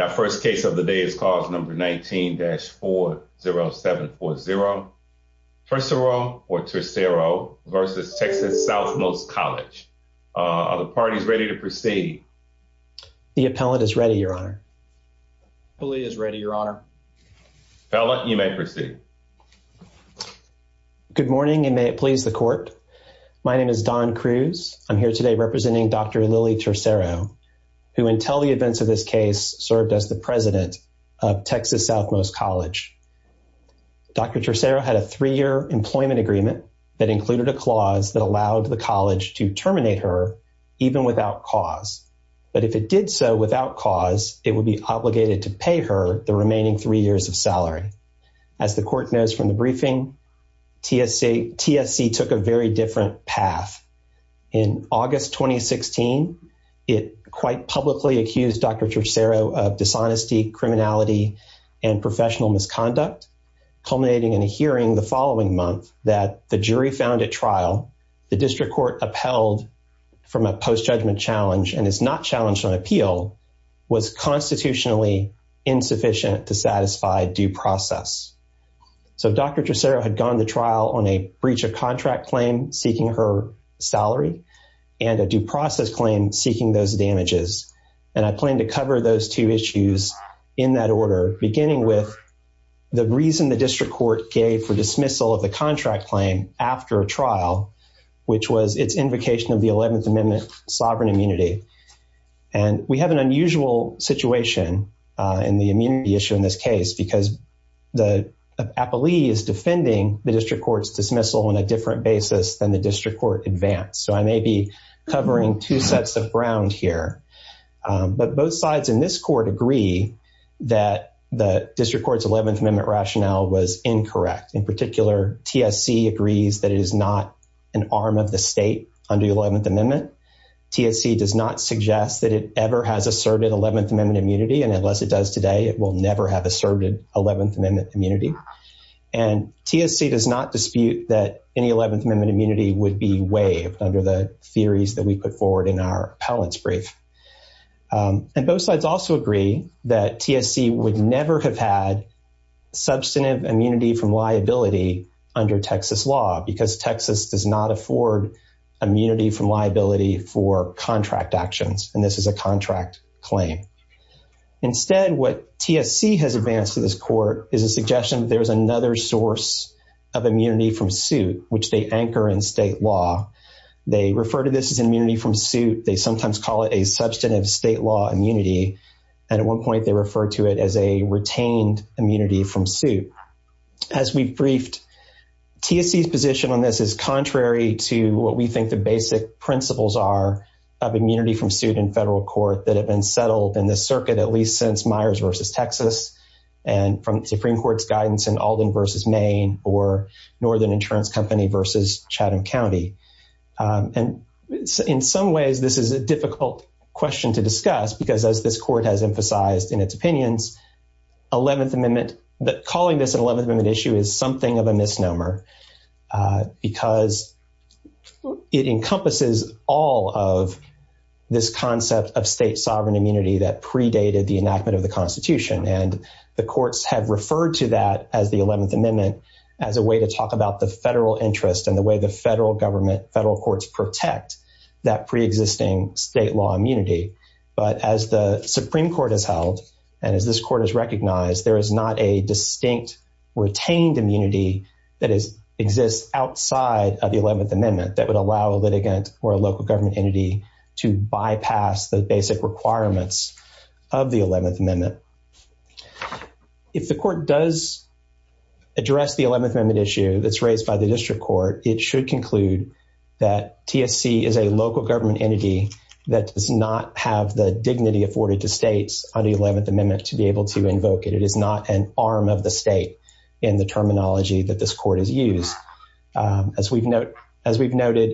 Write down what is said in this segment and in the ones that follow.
Our first case of the day is cause number 19-40740. Tercero v. TX Southmost College. Are the parties ready to proceed? The appellant is ready, your honor. Appellee is ready, your honor. Appellant, you may proceed. Good morning, and may it please the court. My name is Don Cruz. I'm here today representing Dr. Lily Tercero, who, until the events of this case, served as the president of Texas Southmost College. Dr. Tercero had a three-year employment agreement that included a clause that allowed the college to terminate her even without cause. But if it did so without cause, it would be obligated to pay her the remaining three years of salary. As the court knows from the briefing, TSC took a very different path. In August 2016, it quite publicly accused Dr. Tercero of dishonesty, criminality, and professional misconduct, culminating in a hearing the following month that the jury found at trial the district court upheld from a post-judgment challenge and is not challenged on appeal, was constitutionally insufficient to satisfy due process. So Dr. Tercero had gone to trial on a breach of contract claim seeking her salary and a due process claim seeking those damages. And I plan to cover those two issues in that order, beginning with the reason the district court gave for dismissal of the contract claim after a trial, which was its invocation of the situation in the immunity issue in this case because the appellee is defending the district court's dismissal on a different basis than the district court advance. So I may be covering two sets of ground here. But both sides in this court agree that the district court's 11th Amendment rationale was incorrect. In particular, TSC agrees that it is not an arm of the state under the 11th that it ever has asserted 11th Amendment immunity. And unless it does today, it will never have asserted 11th Amendment immunity. And TSC does not dispute that any 11th Amendment immunity would be waived under the theories that we put forward in our appellant's brief. And both sides also agree that TSC would never have had substantive immunity from liability under Texas law because Texas does not afford immunity from liability for contract actions. And this is a contract claim. Instead, what TSC has advanced to this court is a suggestion that there's another source of immunity from suit, which they anchor in state law. They refer to this as immunity from suit. They sometimes call it a substantive state law immunity. And at one point, they refer to it as a retained immunity from suit. As we briefed, TSC's position on this is contrary to what we think the basic principles are of immunity from suit in federal court that have been settled in the circuit at least since Myers versus Texas and from Supreme Court's guidance in Alden versus Maine or Northern Insurance Company versus Chatham in its opinions. Calling this an 11th Amendment issue is something of a misnomer because it encompasses all of this concept of state sovereign immunity that predated the enactment of the Constitution. And the courts have referred to that as the 11th Amendment as a way to talk about the federal interest and the way the federal courts protect that preexisting state law immunity. But as the Supreme Court has held, and as this court has recognized, there is not a distinct retained immunity that exists outside of the 11th Amendment that would allow a litigant or a local government entity to bypass the basic requirements of the 11th Amendment. If the court does address the 11th Amendment issue that's that TSC is a local government entity that does not have the dignity afforded to states on the 11th Amendment to be able to invoke it. It is not an arm of the state in the terminology that this court has used. As we've noted,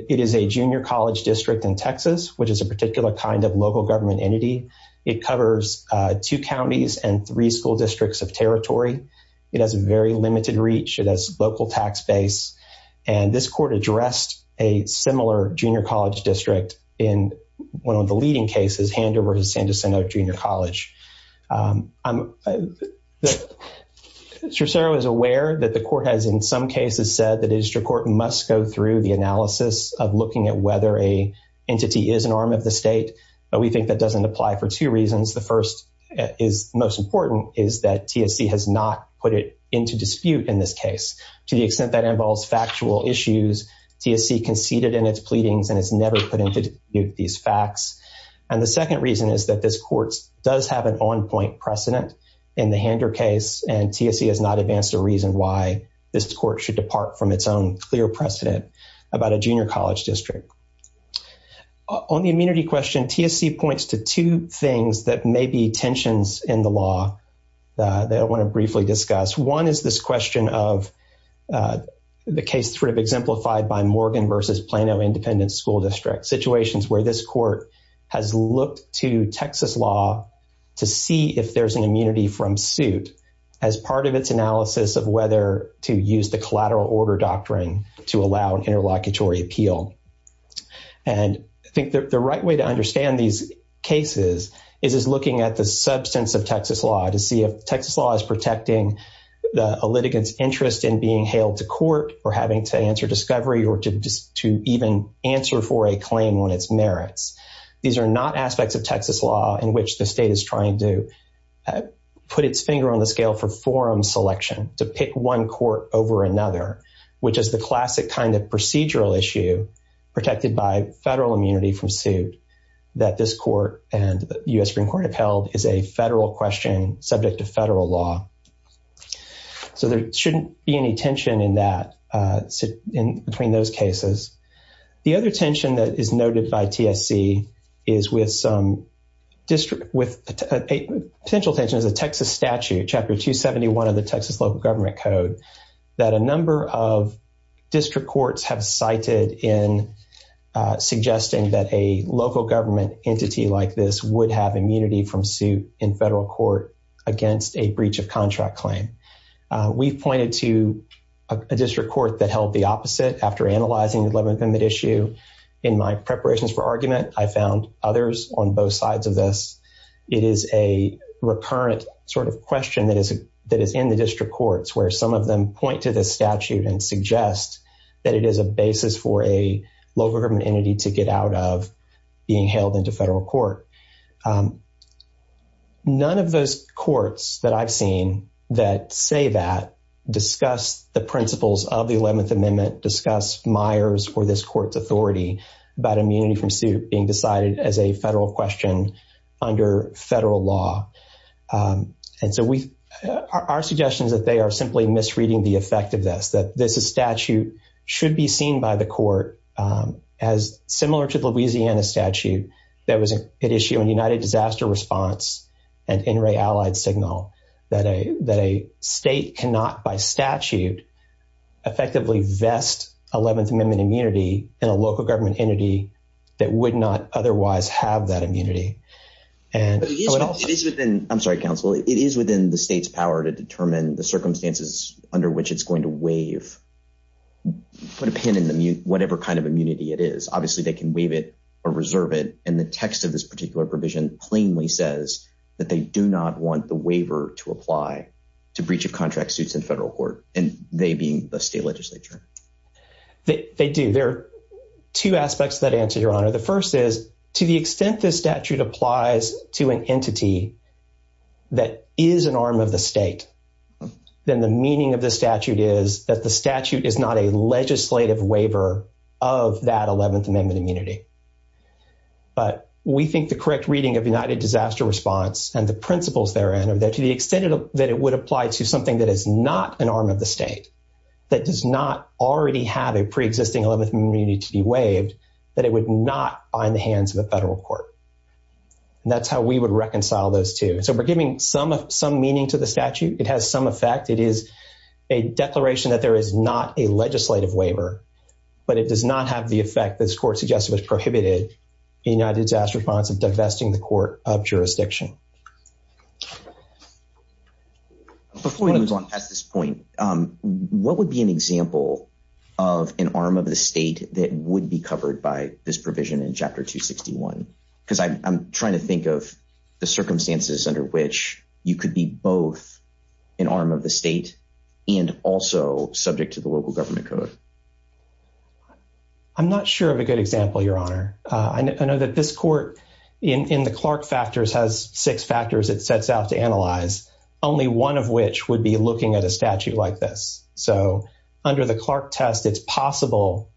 it is a junior college district in Texas, which is a particular kind of local government entity. It covers two counties and three school similar junior college district in one of the leading cases, Hander versus San Jacinto Junior College. I'm sure Sarah is aware that the court has in some cases said that a district court must go through the analysis of looking at whether a entity is an arm of the state, but we think that doesn't apply for two reasons. The first is most important is that TSC has not put it into dispute in this case. To the extent that involves factual issues, TSC conceded in its pleadings and it's never put into dispute these facts. And the second reason is that this court does have an on-point precedent in the Hander case, and TSC has not advanced a reason why this court should depart from its own clear precedent about a junior college district. On the immunity question, TSC points to two things that may be One is this question of the case sort of exemplified by Morgan versus Plano Independent School District situations where this court has looked to Texas law to see if there's an immunity from suit as part of its analysis of whether to use the collateral order doctrine to allow an interlocutory appeal. And I think the right way to understand these cases is looking at the litigant's interest in being hailed to court or having to answer discovery or to just to even answer for a claim on its merits. These are not aspects of Texas law in which the state is trying to put its finger on the scale for forum selection to pick one court over another, which is the classic kind of procedural issue protected by federal immunity from suit that this court and federal law. So there shouldn't be any tension in that, in between those cases. The other tension that is noted by TSC is with some district with a potential tension is a Texas statute, Chapter 271 of the Texas Local Government Code, that a number of district courts have cited in suggesting that a local government entity like this would have immunity from suit in federal court against a breach of contract claim. We've pointed to a district court that held the opposite after analyzing the 11th Amendment issue. In my preparations for argument, I found others on both sides of this. It is a recurrent sort of question that is in the district courts where some of them point to this statute and suggest that it is a basis for a local entity to get out of being held into federal court. None of those courts that I've seen that say that discuss the principles of the 11th Amendment, discuss Myers or this court's authority about immunity from suit being decided as a federal question under federal law. And so our suggestion is that they are simply misreading the effect of this, that this statute should be seen by the court as similar to the Louisiana statute that was at issue in United Disaster Response and NRA Allied Signal, that a state cannot, by statute, effectively vest 11th Amendment immunity in a local government entity that would not otherwise have that immunity. I'm sorry, counsel. It is within the state's power to determine the circumstances under which it's going to waive, put a pin in them, whatever kind of immunity it is. Obviously, they can waive it or reserve it. And the text of this particular provision plainly says that they do not want the waiver to apply to breach of contract suits in federal court and they being the state legislature. They do. There are two aspects of that answer, Your Honor. The first is to the extent this statute applies to an entity that is an arm of the state, then the meaning of the statute is that the statute is not a legislative waiver of that 11th Amendment immunity. But we think the correct reading of United Disaster Response and the principles therein are that to the extent that it would apply to something that is not an arm of the state, that does not already have a preexisting 11th Amendment immunity to be waived, that it would not bind the hands of a federal court. And that's how we would reconcile those two. And so we're giving some meaning to the statute. It has some effect. It is a declaration that there is not a legislative waiver, but it does not have the effect that this court suggested was prohibited in United Disaster Response of divesting the court of jurisdiction. Before we move on past this point, what would be an example of an arm of the state that would be covered by this provision in Chapter 261? Because I'm trying to think of the circumstances under which you could be both an arm of the state and also subject to the local government code. I'm not sure of a good example, Your Honor. I know that this court in the Clark factors has six factors it sets out to analyze, only one of which would be looking at a statute like this. So under the Clark test, it's possible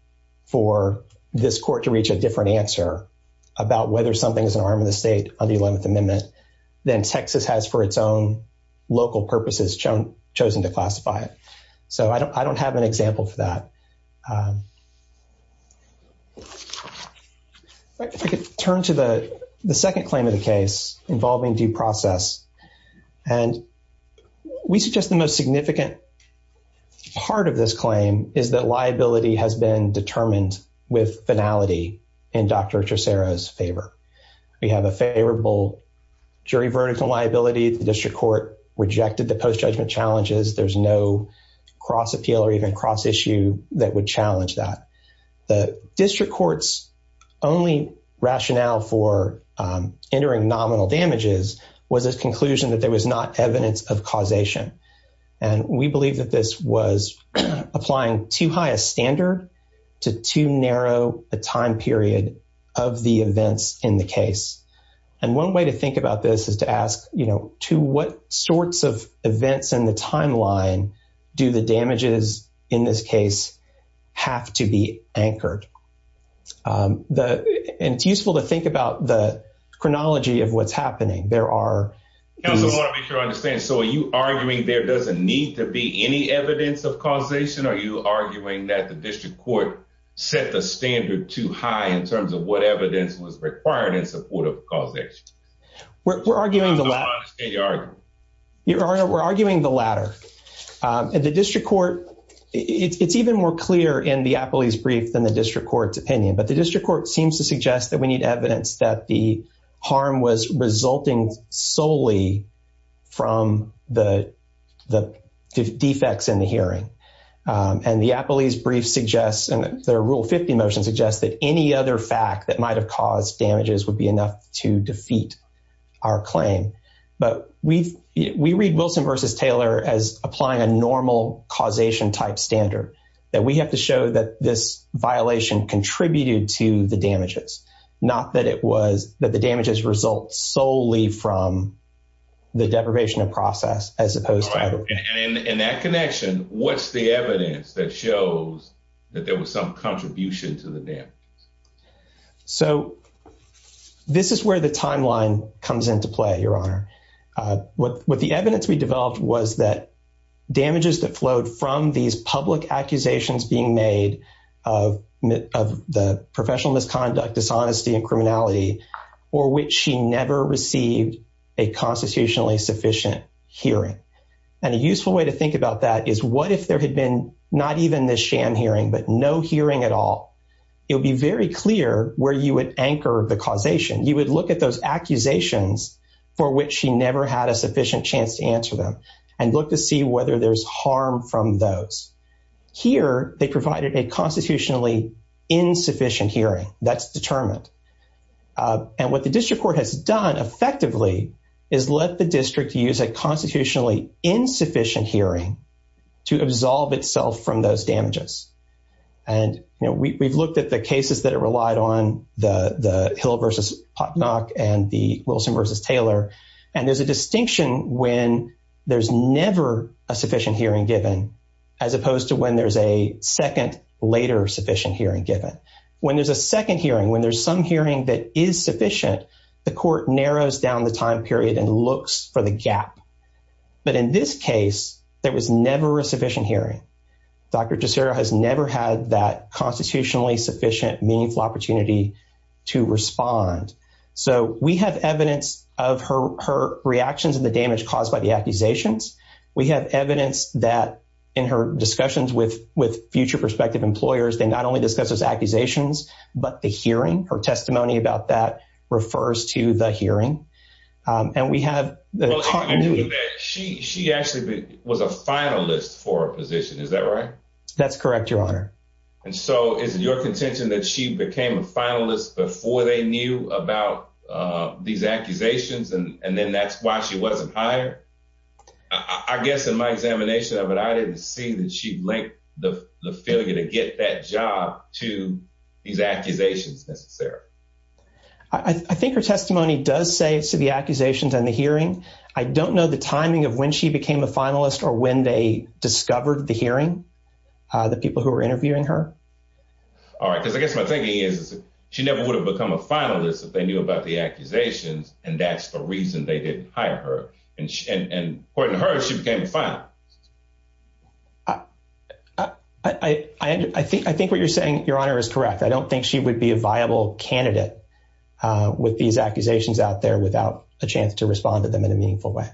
for this court to reach a different answer about whether something is an arm of the state on the 11th Amendment than Texas has for its own local purposes chosen to classify it. So I don't have an example for that. If I could turn to the second claim of the case involving due process. And we suggest the most significant part of this claim is that liability has been determined with finality in Dr. Tresero's favor. We have a favorable jury verdict on liability. The district court rejected the post-judgment challenges. There's no cross-appeal or even cross-issue that would challenge that. The district court's only rationale for entering nominal damages was a conclusion that there was not evidence of causation. And we believe that this was applying too high a standard to too narrow a time period of the events in the case. And one way to think about this is to ask, you know, to what sorts of events in the timeline do the damages in this case have to be anchored? And it's useful to think about the chronology of what's happening. There are... I want to make sure I understand. So are you arguing there doesn't need to be any evidence of causation? Are you arguing that the district court set the standard too high in terms of what evidence was required in support of causation? I don't understand your argument. We're arguing the latter. The district court, it's even more clear in the appellee's brief than the district court's opinion. But the district court seems to suggest that we need solely from the defects in the hearing. And the appellee's brief suggests, and their Rule 50 motion suggests that any other fact that might have caused damages would be enough to defeat our claim. But we read Wilson v. Taylor as applying a normal causation-type standard, that we have to show that this violation contributed to the damages, not that the damages were caused by the deprivation of process. And in that connection, what's the evidence that shows that there was some contribution to the damages? So this is where the timeline comes into play, Your Honor. What the evidence we developed was that damages that flowed from these public accusations being made of the professional misconduct, dishonesty, and criminality, or which she never received a constitutionally sufficient hearing. And a useful way to think about that is, what if there had been not even this sham hearing, but no hearing at all? It would be very clear where you would anchor the causation. You would look at those accusations for which she never had a sufficient chance to answer them and look to see whether there's harm from those. Here, they provided a constitutionally insufficient hearing. That's determined. And what the district court has done effectively is let the district use a constitutionally insufficient hearing to absolve itself from those damages. And we've looked at the cases that it relied on, the Hill v. Potnack and the Wilson v. Taylor. And there's a distinction when there's never a sufficient hearing given, as opposed to when there's a second, later sufficient hearing given. When there's a second hearing, when there's some hearing that is sufficient, the court narrows down the time period and looks for the gap. But in this case, there was never a sufficient hearing. Dr. Tussera has never had that constitutionally sufficient, meaningful opportunity to respond. So we have evidence of her reactions and the damage caused by the accusations. We have evidence that in her discussions with future prospective employers, they not only discuss those accusations, but the hearing, her testimony about that, refers to the hearing. And we have... She actually was a finalist for a position, is that right? That's correct, your honor. And so is it your contention that she became a finalist before they knew about these accusations and then that's why she wasn't hired? I guess in my examination of it, I didn't see that she linked the failure to get that job to these accusations necessarily. I think her testimony does say it's to the accusations and the hearing. I don't know the timing of when she became a finalist or when they discovered the hearing, the people who were interviewing her. All right, because I guess my thinking is she never would have become a finalist if they knew about the accusations and that's the reason they didn't hire her. And according to her, she became a finalist. I think what you're saying, your honor, is correct. I don't think she would be a viable candidate with these accusations out there without a chance to respond to them in a meaningful way.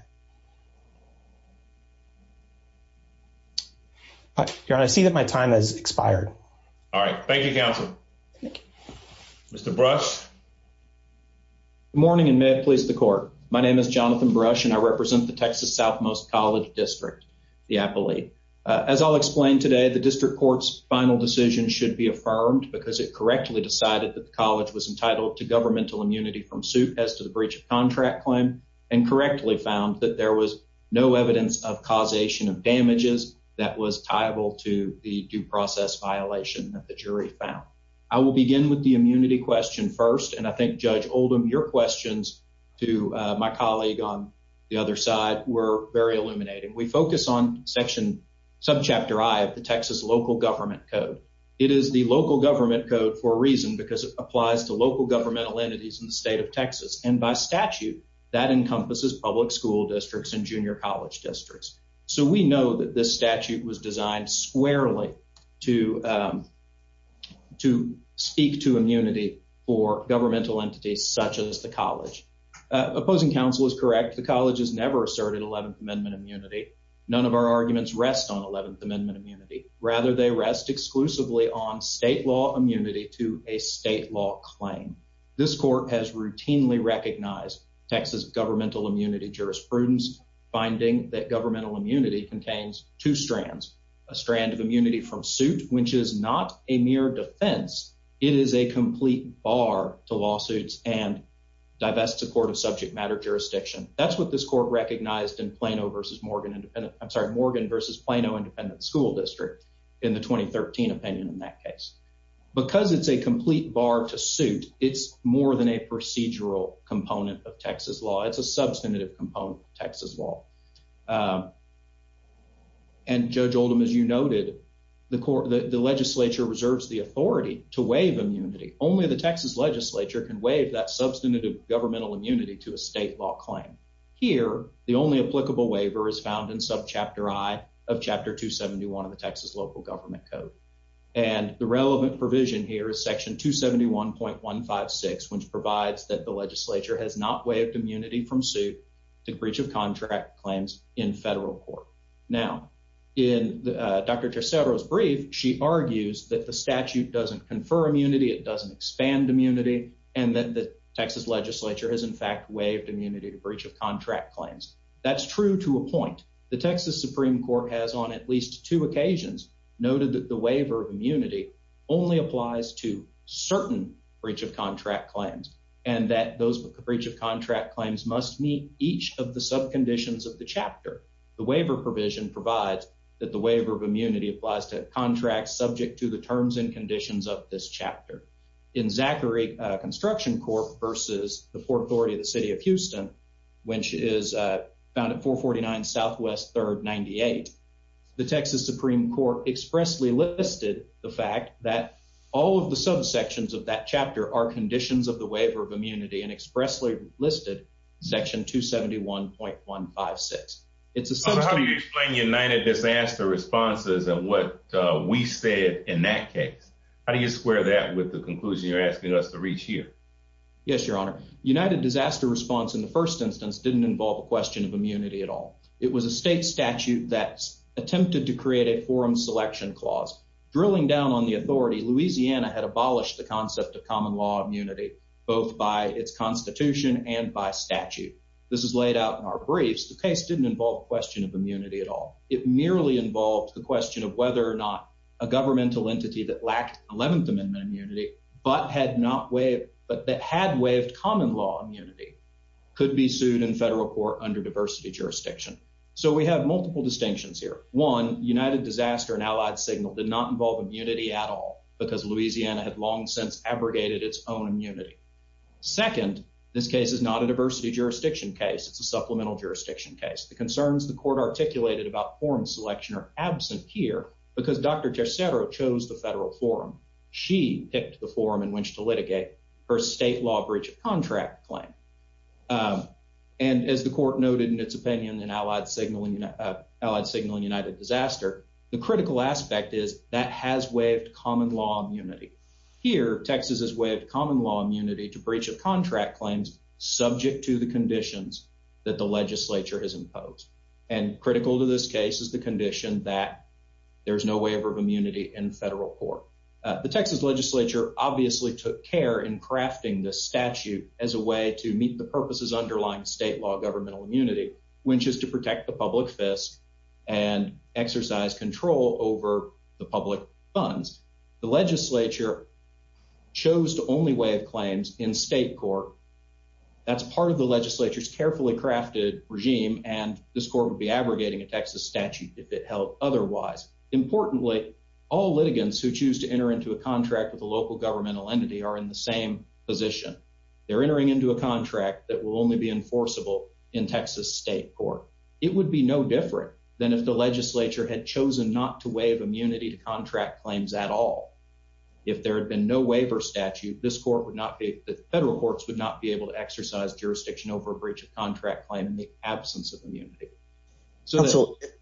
Your honor, I see that my time has expired. All right, thank you, counsel. Thank you. Mr. Brush. Good morning and may it please the court. My name is Jonathan Brush. I'm the attorney for the Texas Southmost College District, the Appalachia. As I'll explain today, the district court's final decision should be affirmed because it correctly decided that the college was entitled to governmental immunity from suit as to the breach of contract claim and correctly found that there was no evidence of causation of damages that was tiable to the due process violation that the jury found. I will begin with the immunity question first and I think Judge on the other side were very illuminating. We focus on section sub chapter I of the Texas local government code. It is the local government code for a reason because it applies to local governmental entities in the state of Texas and by statute that encompasses public school districts and junior college districts. So we know that this statute was designed squarely to speak to immunity for governmental entities such as the college. Opposing counsel is correct. The college has never asserted 11th Amendment immunity. None of our arguments rest on 11th Amendment immunity. Rather, they rest exclusively on state law immunity to a state law claim. This court has routinely recognized Texas governmental immunity jurisprudence, finding that governmental immunity contains two strands, a strand of immunity from suit, which is not a mere defense. It is a complete bar to lawsuits and divest support of subject matter jurisdiction. That's what this court recognized in Plano versus Morgan Independent. I'm sorry, Morgan versus Plano Independent School District in the 2013 opinion. In that case, because it's a complete bar to suit, it's more than a procedural component of Texas law. It's a substantive component of Texas law. Um, and Judge Oldham, as you noted, the court, the Legislature reserves the authority to waive immunity. Only the Texas Legislature can waive that substantive governmental immunity to a state law claim. Here, the only applicable waiver is found in subchapter I of Chapter 271 of the Texas local government code, and the relevant provision here is section 271.156, which provides that the in federal court. Now, in Dr. Tercero's brief, she argues that the statute doesn't confer immunity, it doesn't expand immunity, and that the Texas Legislature has in fact waived immunity to breach of contract claims. That's true to a point. The Texas Supreme Court has on at least two occasions noted that the waiver of immunity only applies to certain breach of contract claims, and that those breach of contract claims must meet each of the subconditions of the chapter. The waiver provision provides that the waiver of immunity applies to contracts subject to the terms and conditions of this chapter. In Zachary Construction Court versus the Port Authority of the City of Houston, which is found at 449 Southwest 3rd 98, the Texas Supreme Court expressly listed the fact that all of the subsections of that chapter are conditions of the waiver of immunity and expressly listed section 271.156. How do you explain United Disaster Responses and what we said in that case? How do you square that with the conclusion you're asking us to reach here? Yes, your honor. United Disaster Response in the first instance didn't involve a question of immunity at all. It was a state statute that attempted to create a forum selection clause, drilling down on the authority. Louisiana had abolished the concept of common law immunity, both by its constitution and by statute. This is laid out in our briefs. The case didn't involve question of immunity at all. It merely involved the question of whether or not a governmental entity that lacked 11th Amendment immunity but that had waived common law immunity could be sued in federal court under diversity jurisdiction. So we have multiple distinctions here. One, United Disaster and Allied Signal did not involve immunity at all because Louisiana had long since abrogated its own immunity. Second, this case is not a diversity jurisdiction case. It's a supplemental jurisdiction case. The concerns the court articulated about forum selection are absent here because Dr. Tercero chose the federal forum. She picked the forum in which to litigate her state law breach of contract claim. And as the court noted in its United Disaster, the critical aspect is that has waived common law immunity. Here, Texas has waived common law immunity to breach of contract claims subject to the conditions that the legislature has imposed. And critical to this case is the condition that there's no waiver of immunity in federal court. The Texas legislature obviously took care in crafting this statute as a way to meet the purposes underlying state law governmental immunity, which is to protect the public fist and exercise control over the public funds. The legislature chose the only way of claims in state court. That's part of the legislature's carefully crafted regime, and this court would be abrogating a Texas statute if it held otherwise. Importantly, all litigants who choose to enter into a contract with a local governmental entity are in the same position. They're entering into a contract that will only be enforceable in Texas state court. It would be no different than if the legislature had chosen not to waive immunity to contract claims at all. If there had been no waiver statute, this court would not be, the federal courts would not be able to exercise jurisdiction over a breach of contract claim in the absence of immunity. So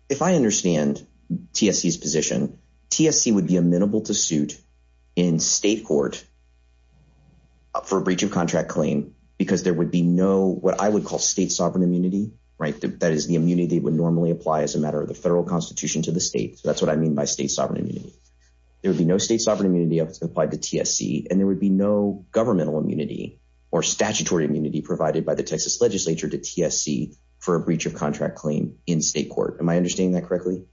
if I understand TSC's position, TSC would be amenable to suit in state court for a breach of contract claim because there would be no what I would call state sovereign immunity, right? That is the immunity would normally apply as a matter of the federal constitution to the state. So that's what I mean by state sovereign immunity. There would be no state sovereign immunity if it's applied to TSC, and there would be no governmental immunity or statutory immunity provided by the Texas legislature to TSC for a breach of contract claim in state court. Am I understanding that correctly?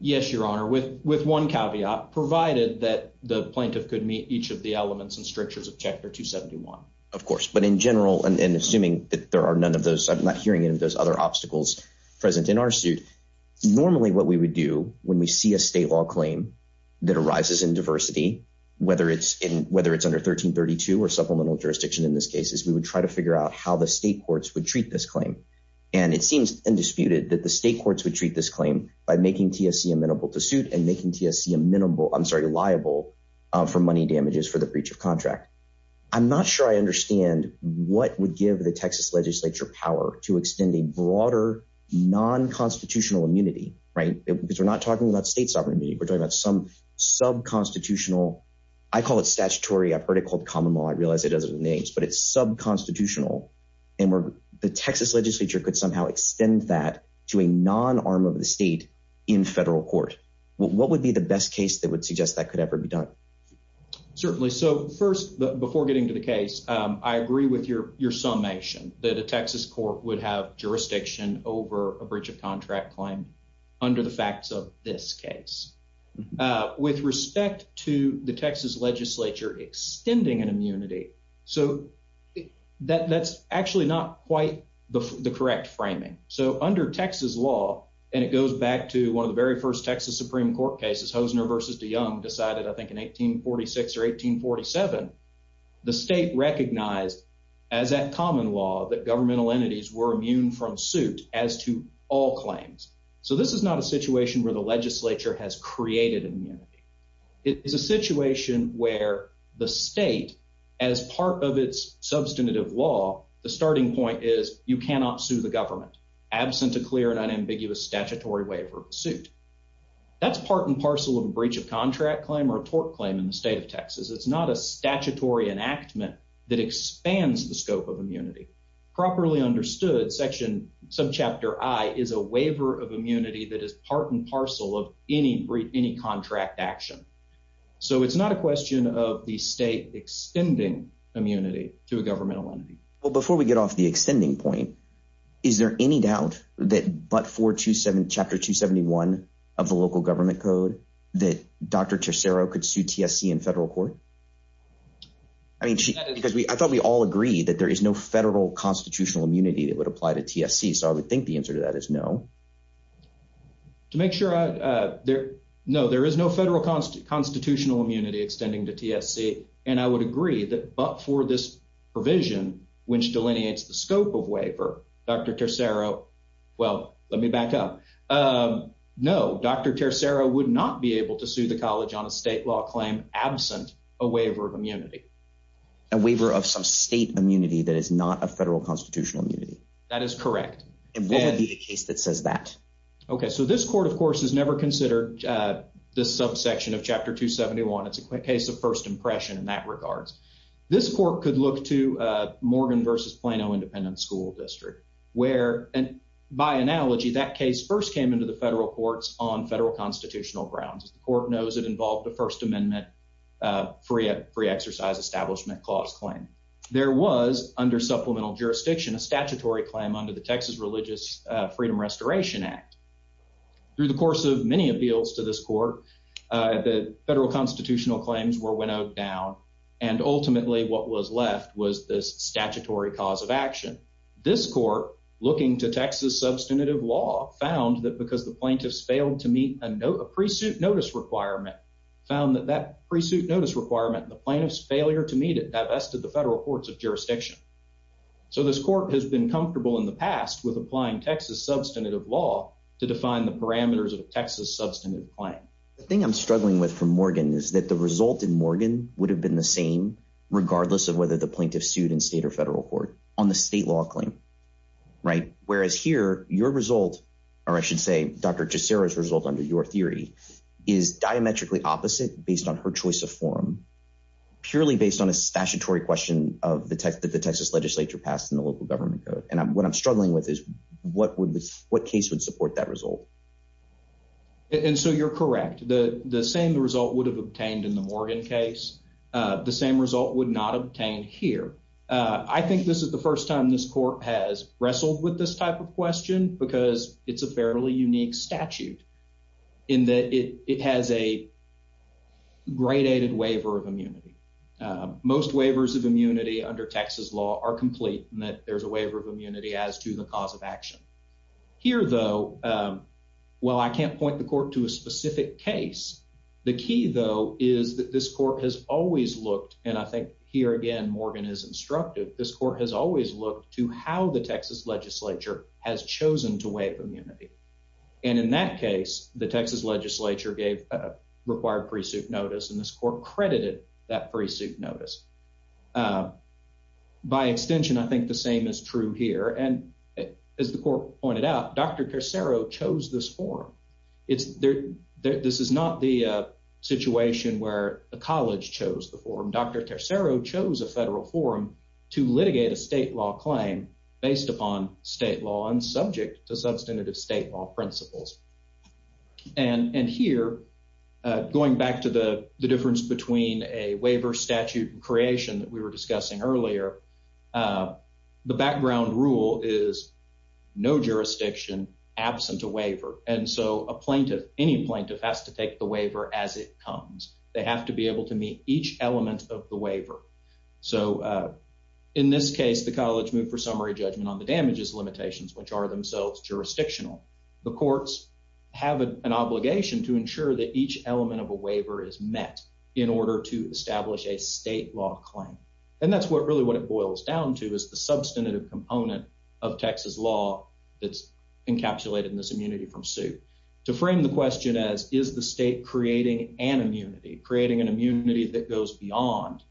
Yes, your honor. With one caveat, provided that the plaintiff could meet each of the elements and strictures of chapter 271. Of course, but in general, and assuming that there are none of those, I'm not hearing any of those other obstacles present in our suit. Normally what we would do when we see a state law claim that arises in diversity, whether it's in, whether it's under 1332 or supplemental jurisdiction in this case is we would try to figure out how the state courts would treat this claim. And it seems undisputed that the state courts would treat this claim by making TSC amenable to suit and making TSC amenable, I'm sorry, liable for money damages for breach of contract. I'm not sure I understand what would give the Texas legislature power to extend a broader non-constitutional immunity, right? Because we're not talking about state sovereign immunity. We're talking about some sub-constitutional, I call it statutory. I've heard it called common law. I realize it doesn't have names, but it's sub-constitutional and where the Texas legislature could somehow extend that to a non-arm of the state in federal court. What would be the best case that would suggest that could ever be done? Certainly. So first, before getting to the case, I agree with your summation that a Texas court would have jurisdiction over a breach of contract claim under the facts of this case. With respect to the Texas legislature extending an immunity, so that's actually not quite the correct framing. So under Texas law, and it goes back to one of the very first Texas Supreme Court cases, Hosner versus DeYoung decided, I think in 1846 or 1847, the state recognized as that common law that governmental entities were immune from suit as to all claims. So this is not a situation where the legislature has created immunity. It is a situation where the state, as part of its substantive law, the starting point is you cannot sue the government absent a clear and unambiguous statutory waiver of suit. That's part and parcel of a breach of contract claim or a tort claim in the state of Texas. It's not a statutory enactment that expands the scope of immunity. Properly understood, section subchapter I is a waiver of immunity that is part and parcel of any contract action. So it's not a question of the state extending immunity to a governmental entity. Well, before we get off the extending point, is there any doubt that but for chapter 271 of the local government code that Dr. Tercero could sue TSC in federal court? I mean, because I thought we all agreed that there is no federal constitutional immunity that would apply to TSC. So I would think the answer to that is no. To make sure, no, there is no federal constitutional immunity extending to TSC, and I would agree that but for this provision, which delineates the scope of waiver, Dr. Tercero, well, let me back up. No, Dr. Tercero would not be able to sue the college on a state law claim absent a waiver of immunity. A waiver of some state immunity that is not a federal constitutional immunity. That is correct. And what would be the case that says that? Okay, so this court, of course, has never considered this subsection of chapter 271. It's a case of first impression in that regards. This court could look to Morgan versus Plano Independent School District, where, by analogy, that case first came into the federal courts on federal constitutional grounds. The court knows it involved a First Amendment free exercise establishment clause claim. There was, under supplemental jurisdiction, a statutory claim under the Texas Religious Freedom Restoration Act. Through the course of many appeals to this court, the federal constitutional claims were winnowed down, and ultimately, what was left was this statutory cause of action. This court, looking to Texas substantive law, found that because the plaintiffs failed to meet a pre-suit notice requirement, found that that pre-suit notice requirement and the plaintiff's failure to meet it divested the federal courts of jurisdiction. So this court has been comfortable in the past with applying Texas substantive law to define the parameters of a Texas substantive claim. The thing I'm struggling with for Morgan is that the result in Morgan would have been the same, regardless of whether the plaintiff sued in state or federal court, on the state law claim, right? Whereas here, your result, or I should say Dr. Cesaro's result under your theory, is diametrically opposite based on her choice of forum, purely based on a statutory question of the Texas legislature passed in the local government code. And what I'm struggling with is what case would support that result? And so you're correct. The same result would have obtained in the Morgan case. The same result would not obtain here. I think this is the first time this court has wrestled with this type of question because it's a fairly unique statute in that it has a gradated waiver of immunity. Most waivers of immunity under Texas law are complete in that there's a waiver of immunity as to the cause of action. Here though, while I can't point the court to a specific case, the key though is that this court has always looked, and I think here again, Morgan is instructive, this court has always looked to how the Texas legislature has chosen to waive immunity. And in that case, the Texas legislature gave a required pre-suit notice, and this court credited that pre-suit notice. By extension, I think the same is true here. And as the court pointed out, Dr. Tercero chose this forum. This is not the situation where the college chose the forum. Dr. Tercero chose a federal forum to litigate a state law claim based upon state law and subject to substantive state law principles. And here, going back to the difference between a waiver statute and creation that we were discussing earlier, the background rule is no jurisdiction absent a waiver. And so, a plaintiff, any plaintiff has to take the waiver as it comes. They have to be able to meet each element of the waiver. So, in this case, the college moved for summary judgment on the damages limitations, which are themselves jurisdictional. The courts have an obligation to ensure that each element of a waiver is met in order to establish a state law claim. And that's what really what it boils down to is the substantive component of Texas law that's encapsulated in this immunity from suit. To frame the question as, is the state creating an immunity, creating an immunity that goes beyond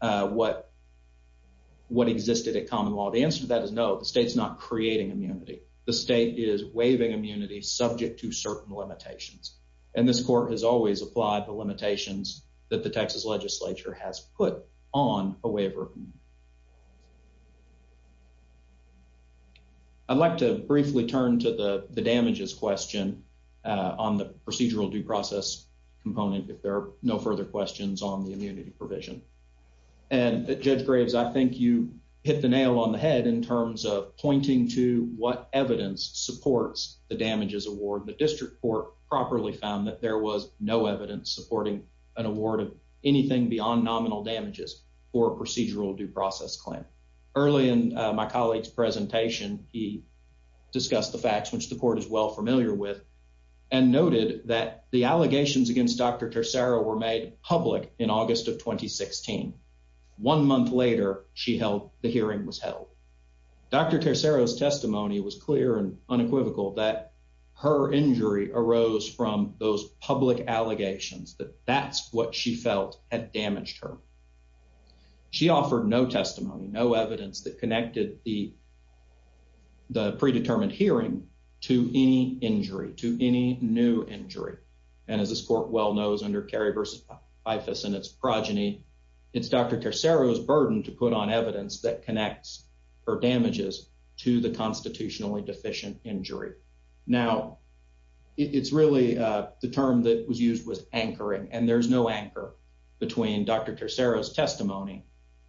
what existed at common law? The answer to that is no. The state's not creating immunity. The state is waiving immunity subject to certain limitations. And this court has always applied the limitations that the Texas legislature has put on a waiver. I'd like to briefly turn to the damages question on the procedural due process component if there are no further questions on the immunity provision. And Judge Graves, I think you hit the nail on the head in terms of pointing to what evidence supports the damages award. The district court properly found that there was no evidence supporting an award of anything beyond nominal damages for a procedural due process claim. Early in my colleague's presentation, he discussed the facts, which the court is well familiar with, and noted that the allegations against Dr. Tercero were made public in August of 2016. One month later, she held the hearing was held. Dr. Tercero's testimony was clear and unequivocal that her injury arose from those public allegations that that's what she felt had damaged her. She offered no testimony, no evidence that connected the predetermined hearing to any injury, to any new injury. And as this court well knows under Kerry v. Bifus and its progeny, it's Dr. Tercero's burden to put on evidence that connects her damages to the constitutionally deficient injury. Now, it's really the term that was used was anchoring, and there's no anchor between Dr. Tercero's testimony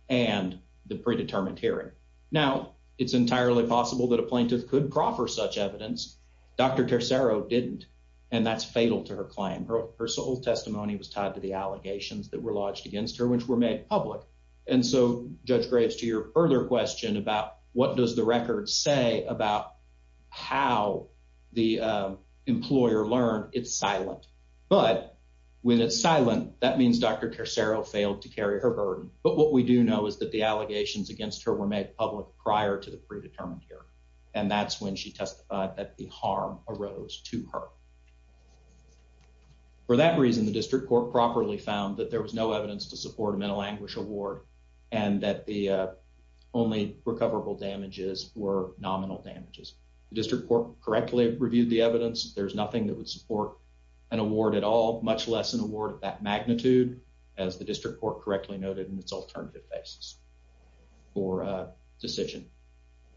and the predetermined hearing. Now, it's entirely possible that a plaintiff could proffer such evidence. Dr. Tercero didn't, and that's fatal to her claim. Her sole testimony was tied to the allegations that were lodged against her, which were made public. And so, Judge Graves, to your earlier question about what does the record say about how the employer learned, it's silent. But when it's silent, that means Dr. Tercero failed to carry her burden. But what we do know is that the allegations against her were made public prior to the predetermined hearing, and that's when she testified that the harm arose to her. For that reason, the district court properly found that there was no evidence to support a mental anguish award and that the only recoverable damages were nominal damages. The district court correctly reviewed the evidence. There's nothing that would support an award at all, much less an award of that magnitude, as the district court correctly noted in its alternative basis for decision.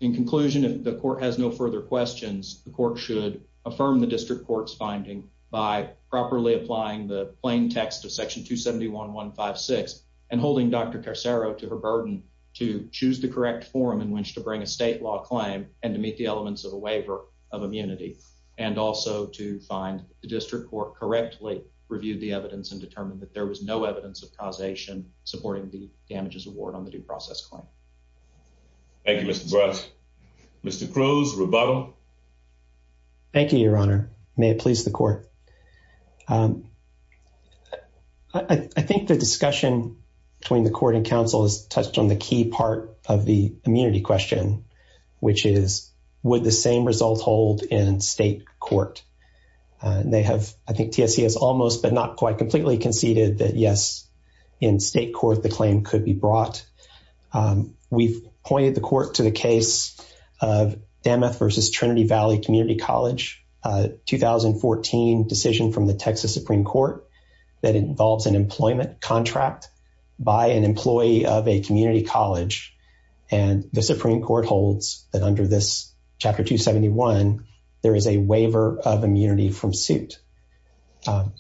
In conclusion, if the court has no further questions, the court should affirm the district court's finding by properly applying the plain text of Section 271.156 and holding Dr. Tercero to her burden to choose the correct form in which to bring a state law claim and to meet the elements of a waiver of immunity and also to find the district court correctly reviewed the evidence and determined that there was no evidence of causation supporting the damages award on the due process claim. Thank you, Mr. Barrett. Mr. Cruz, rebuttal. Thank you, your honor. May it please the court. I think the discussion between the court and counsel has touched on the key part of the immunity question, which is would the same result hold in state court? They have, I think TSC has almost but not quite completely conceded that yes, in state court, the claim could be brought. We've pointed the court to the case of Danmuth versus Trinity Valley Community College, a 2014 decision from the Texas Supreme Court that involves an employment contract by an employee of a community college. And the Supreme Court holds that under this Chapter 271, there is a waiver of immunity from suit.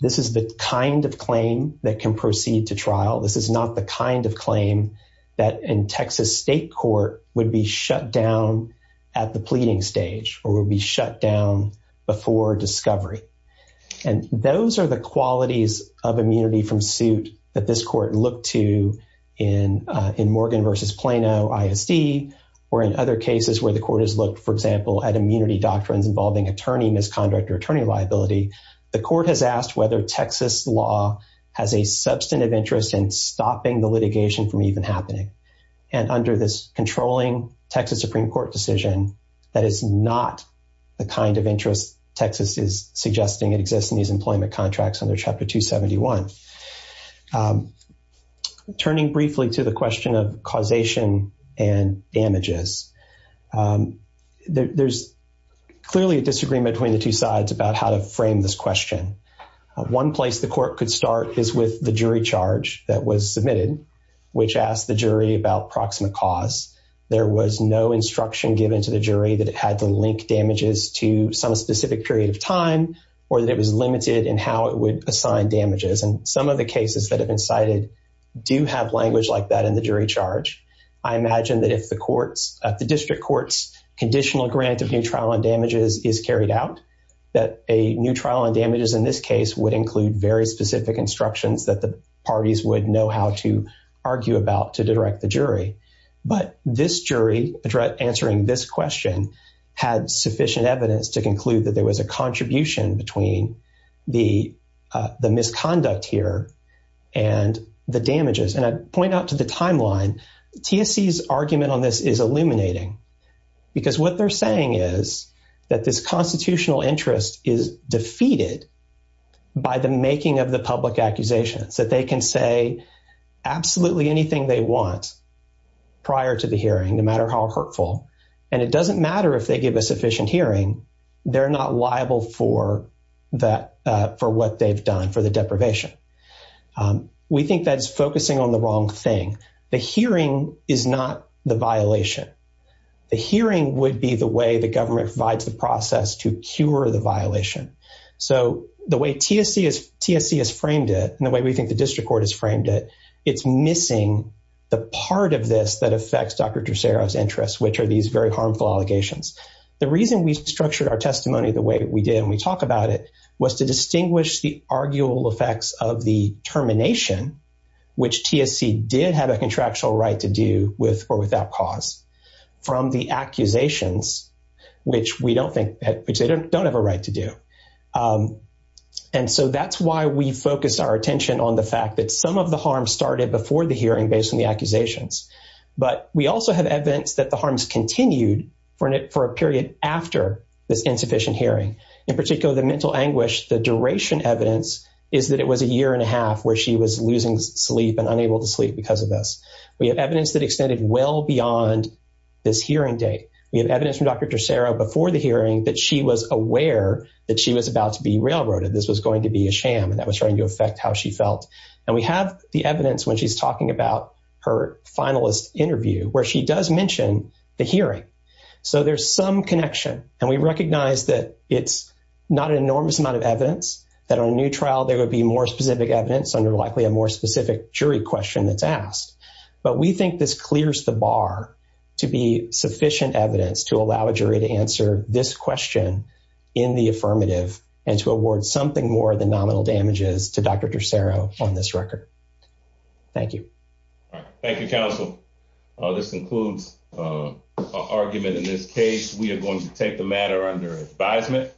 This is the kind of claim that can proceed to trial. This is not the kind of claim that in Texas state court would be shut down at the pleading stage or would be shut down before discovery. And those are the qualities of immunity from suit that this court looked to in Morgan versus Plano ISD or in other cases where the court has looked, for example, at immunity doctrines involving attorney misconduct or attorney liability, the court has asked whether Texas law has a substantive interest in stopping the litigation from even happening. And under this controlling Texas Supreme Court decision, that is not the kind of interest Texas is suggesting it exists in these employment contracts under Chapter 271. Turning briefly to the question of causation and damages, there's clearly a disagreement between the two sides about how to frame this question. One place the court could start is with the jury charge that was submitted, which asked the jury about proximate cause. There was no instruction given to the jury that it had to link damages to some specific period of time or that it was limited in how it would assign damages. And some of the cases that have been cited do have language like that in the jury charge. I imagine that if the district court's conditional grant of new trial on damages is carried out, that a new trial on damages in this case would include very specific instructions that the parties would know how to argue about to direct the jury. But this jury answering this question had sufficient evidence to conclude that there was a contribution between the misconduct here and the damages. And I'd point out to the timeline, TSC's argument on this is illuminating because what they're saying is that this constitutional interest is defeated by the making of the public accusations, that they can say absolutely anything they want prior to the hearing, no matter how hurtful. And it doesn't matter if they give a sufficient hearing, they're not liable for what they've done for the deprivation. We think that's focusing on the wrong thing. The hearing is not the violation. The hearing would be the way the government provides the process to cure the violation. So the way TSC has framed it and the way we think the district court has framed it, it's missing the part of this that affects Dr. Tresero's interests, which are these very harmful allegations. The reason we structured our testimony the way we did, and we talk about it, was to distinguish the arguable effects of the termination, which TSC did have a contractual right to do with or without cause, from the accusations, which we don't think, which they don't have a right to do. And so that's why we focus our attention on the fact that some of the harm started before the hearing based on the evidence. We also have evidence that the harms continued for a period after this insufficient hearing. In particular, the mental anguish, the duration evidence, is that it was a year and a half where she was losing sleep and unable to sleep because of this. We have evidence that extended well beyond this hearing date. We have evidence from Dr. Tresero before the hearing that she was aware that she was about to be railroaded, this was going to be a sham, and that was trying to affect how she felt. And we have the evidence when she's talking about her finalist interview, where she does mention the hearing. So there's some connection, and we recognize that it's not an enormous amount of evidence, that on a new trial there would be more specific evidence under likely a more specific jury question that's asked. But we think this clears the bar to be sufficient evidence to allow a jury to answer this question in the affirmative and to award something more than nominal damages to Dr. Tresero on this record. Thank you. All right. Thank you, counsel. This concludes our argument in this case. We are going to take the matter under advisement.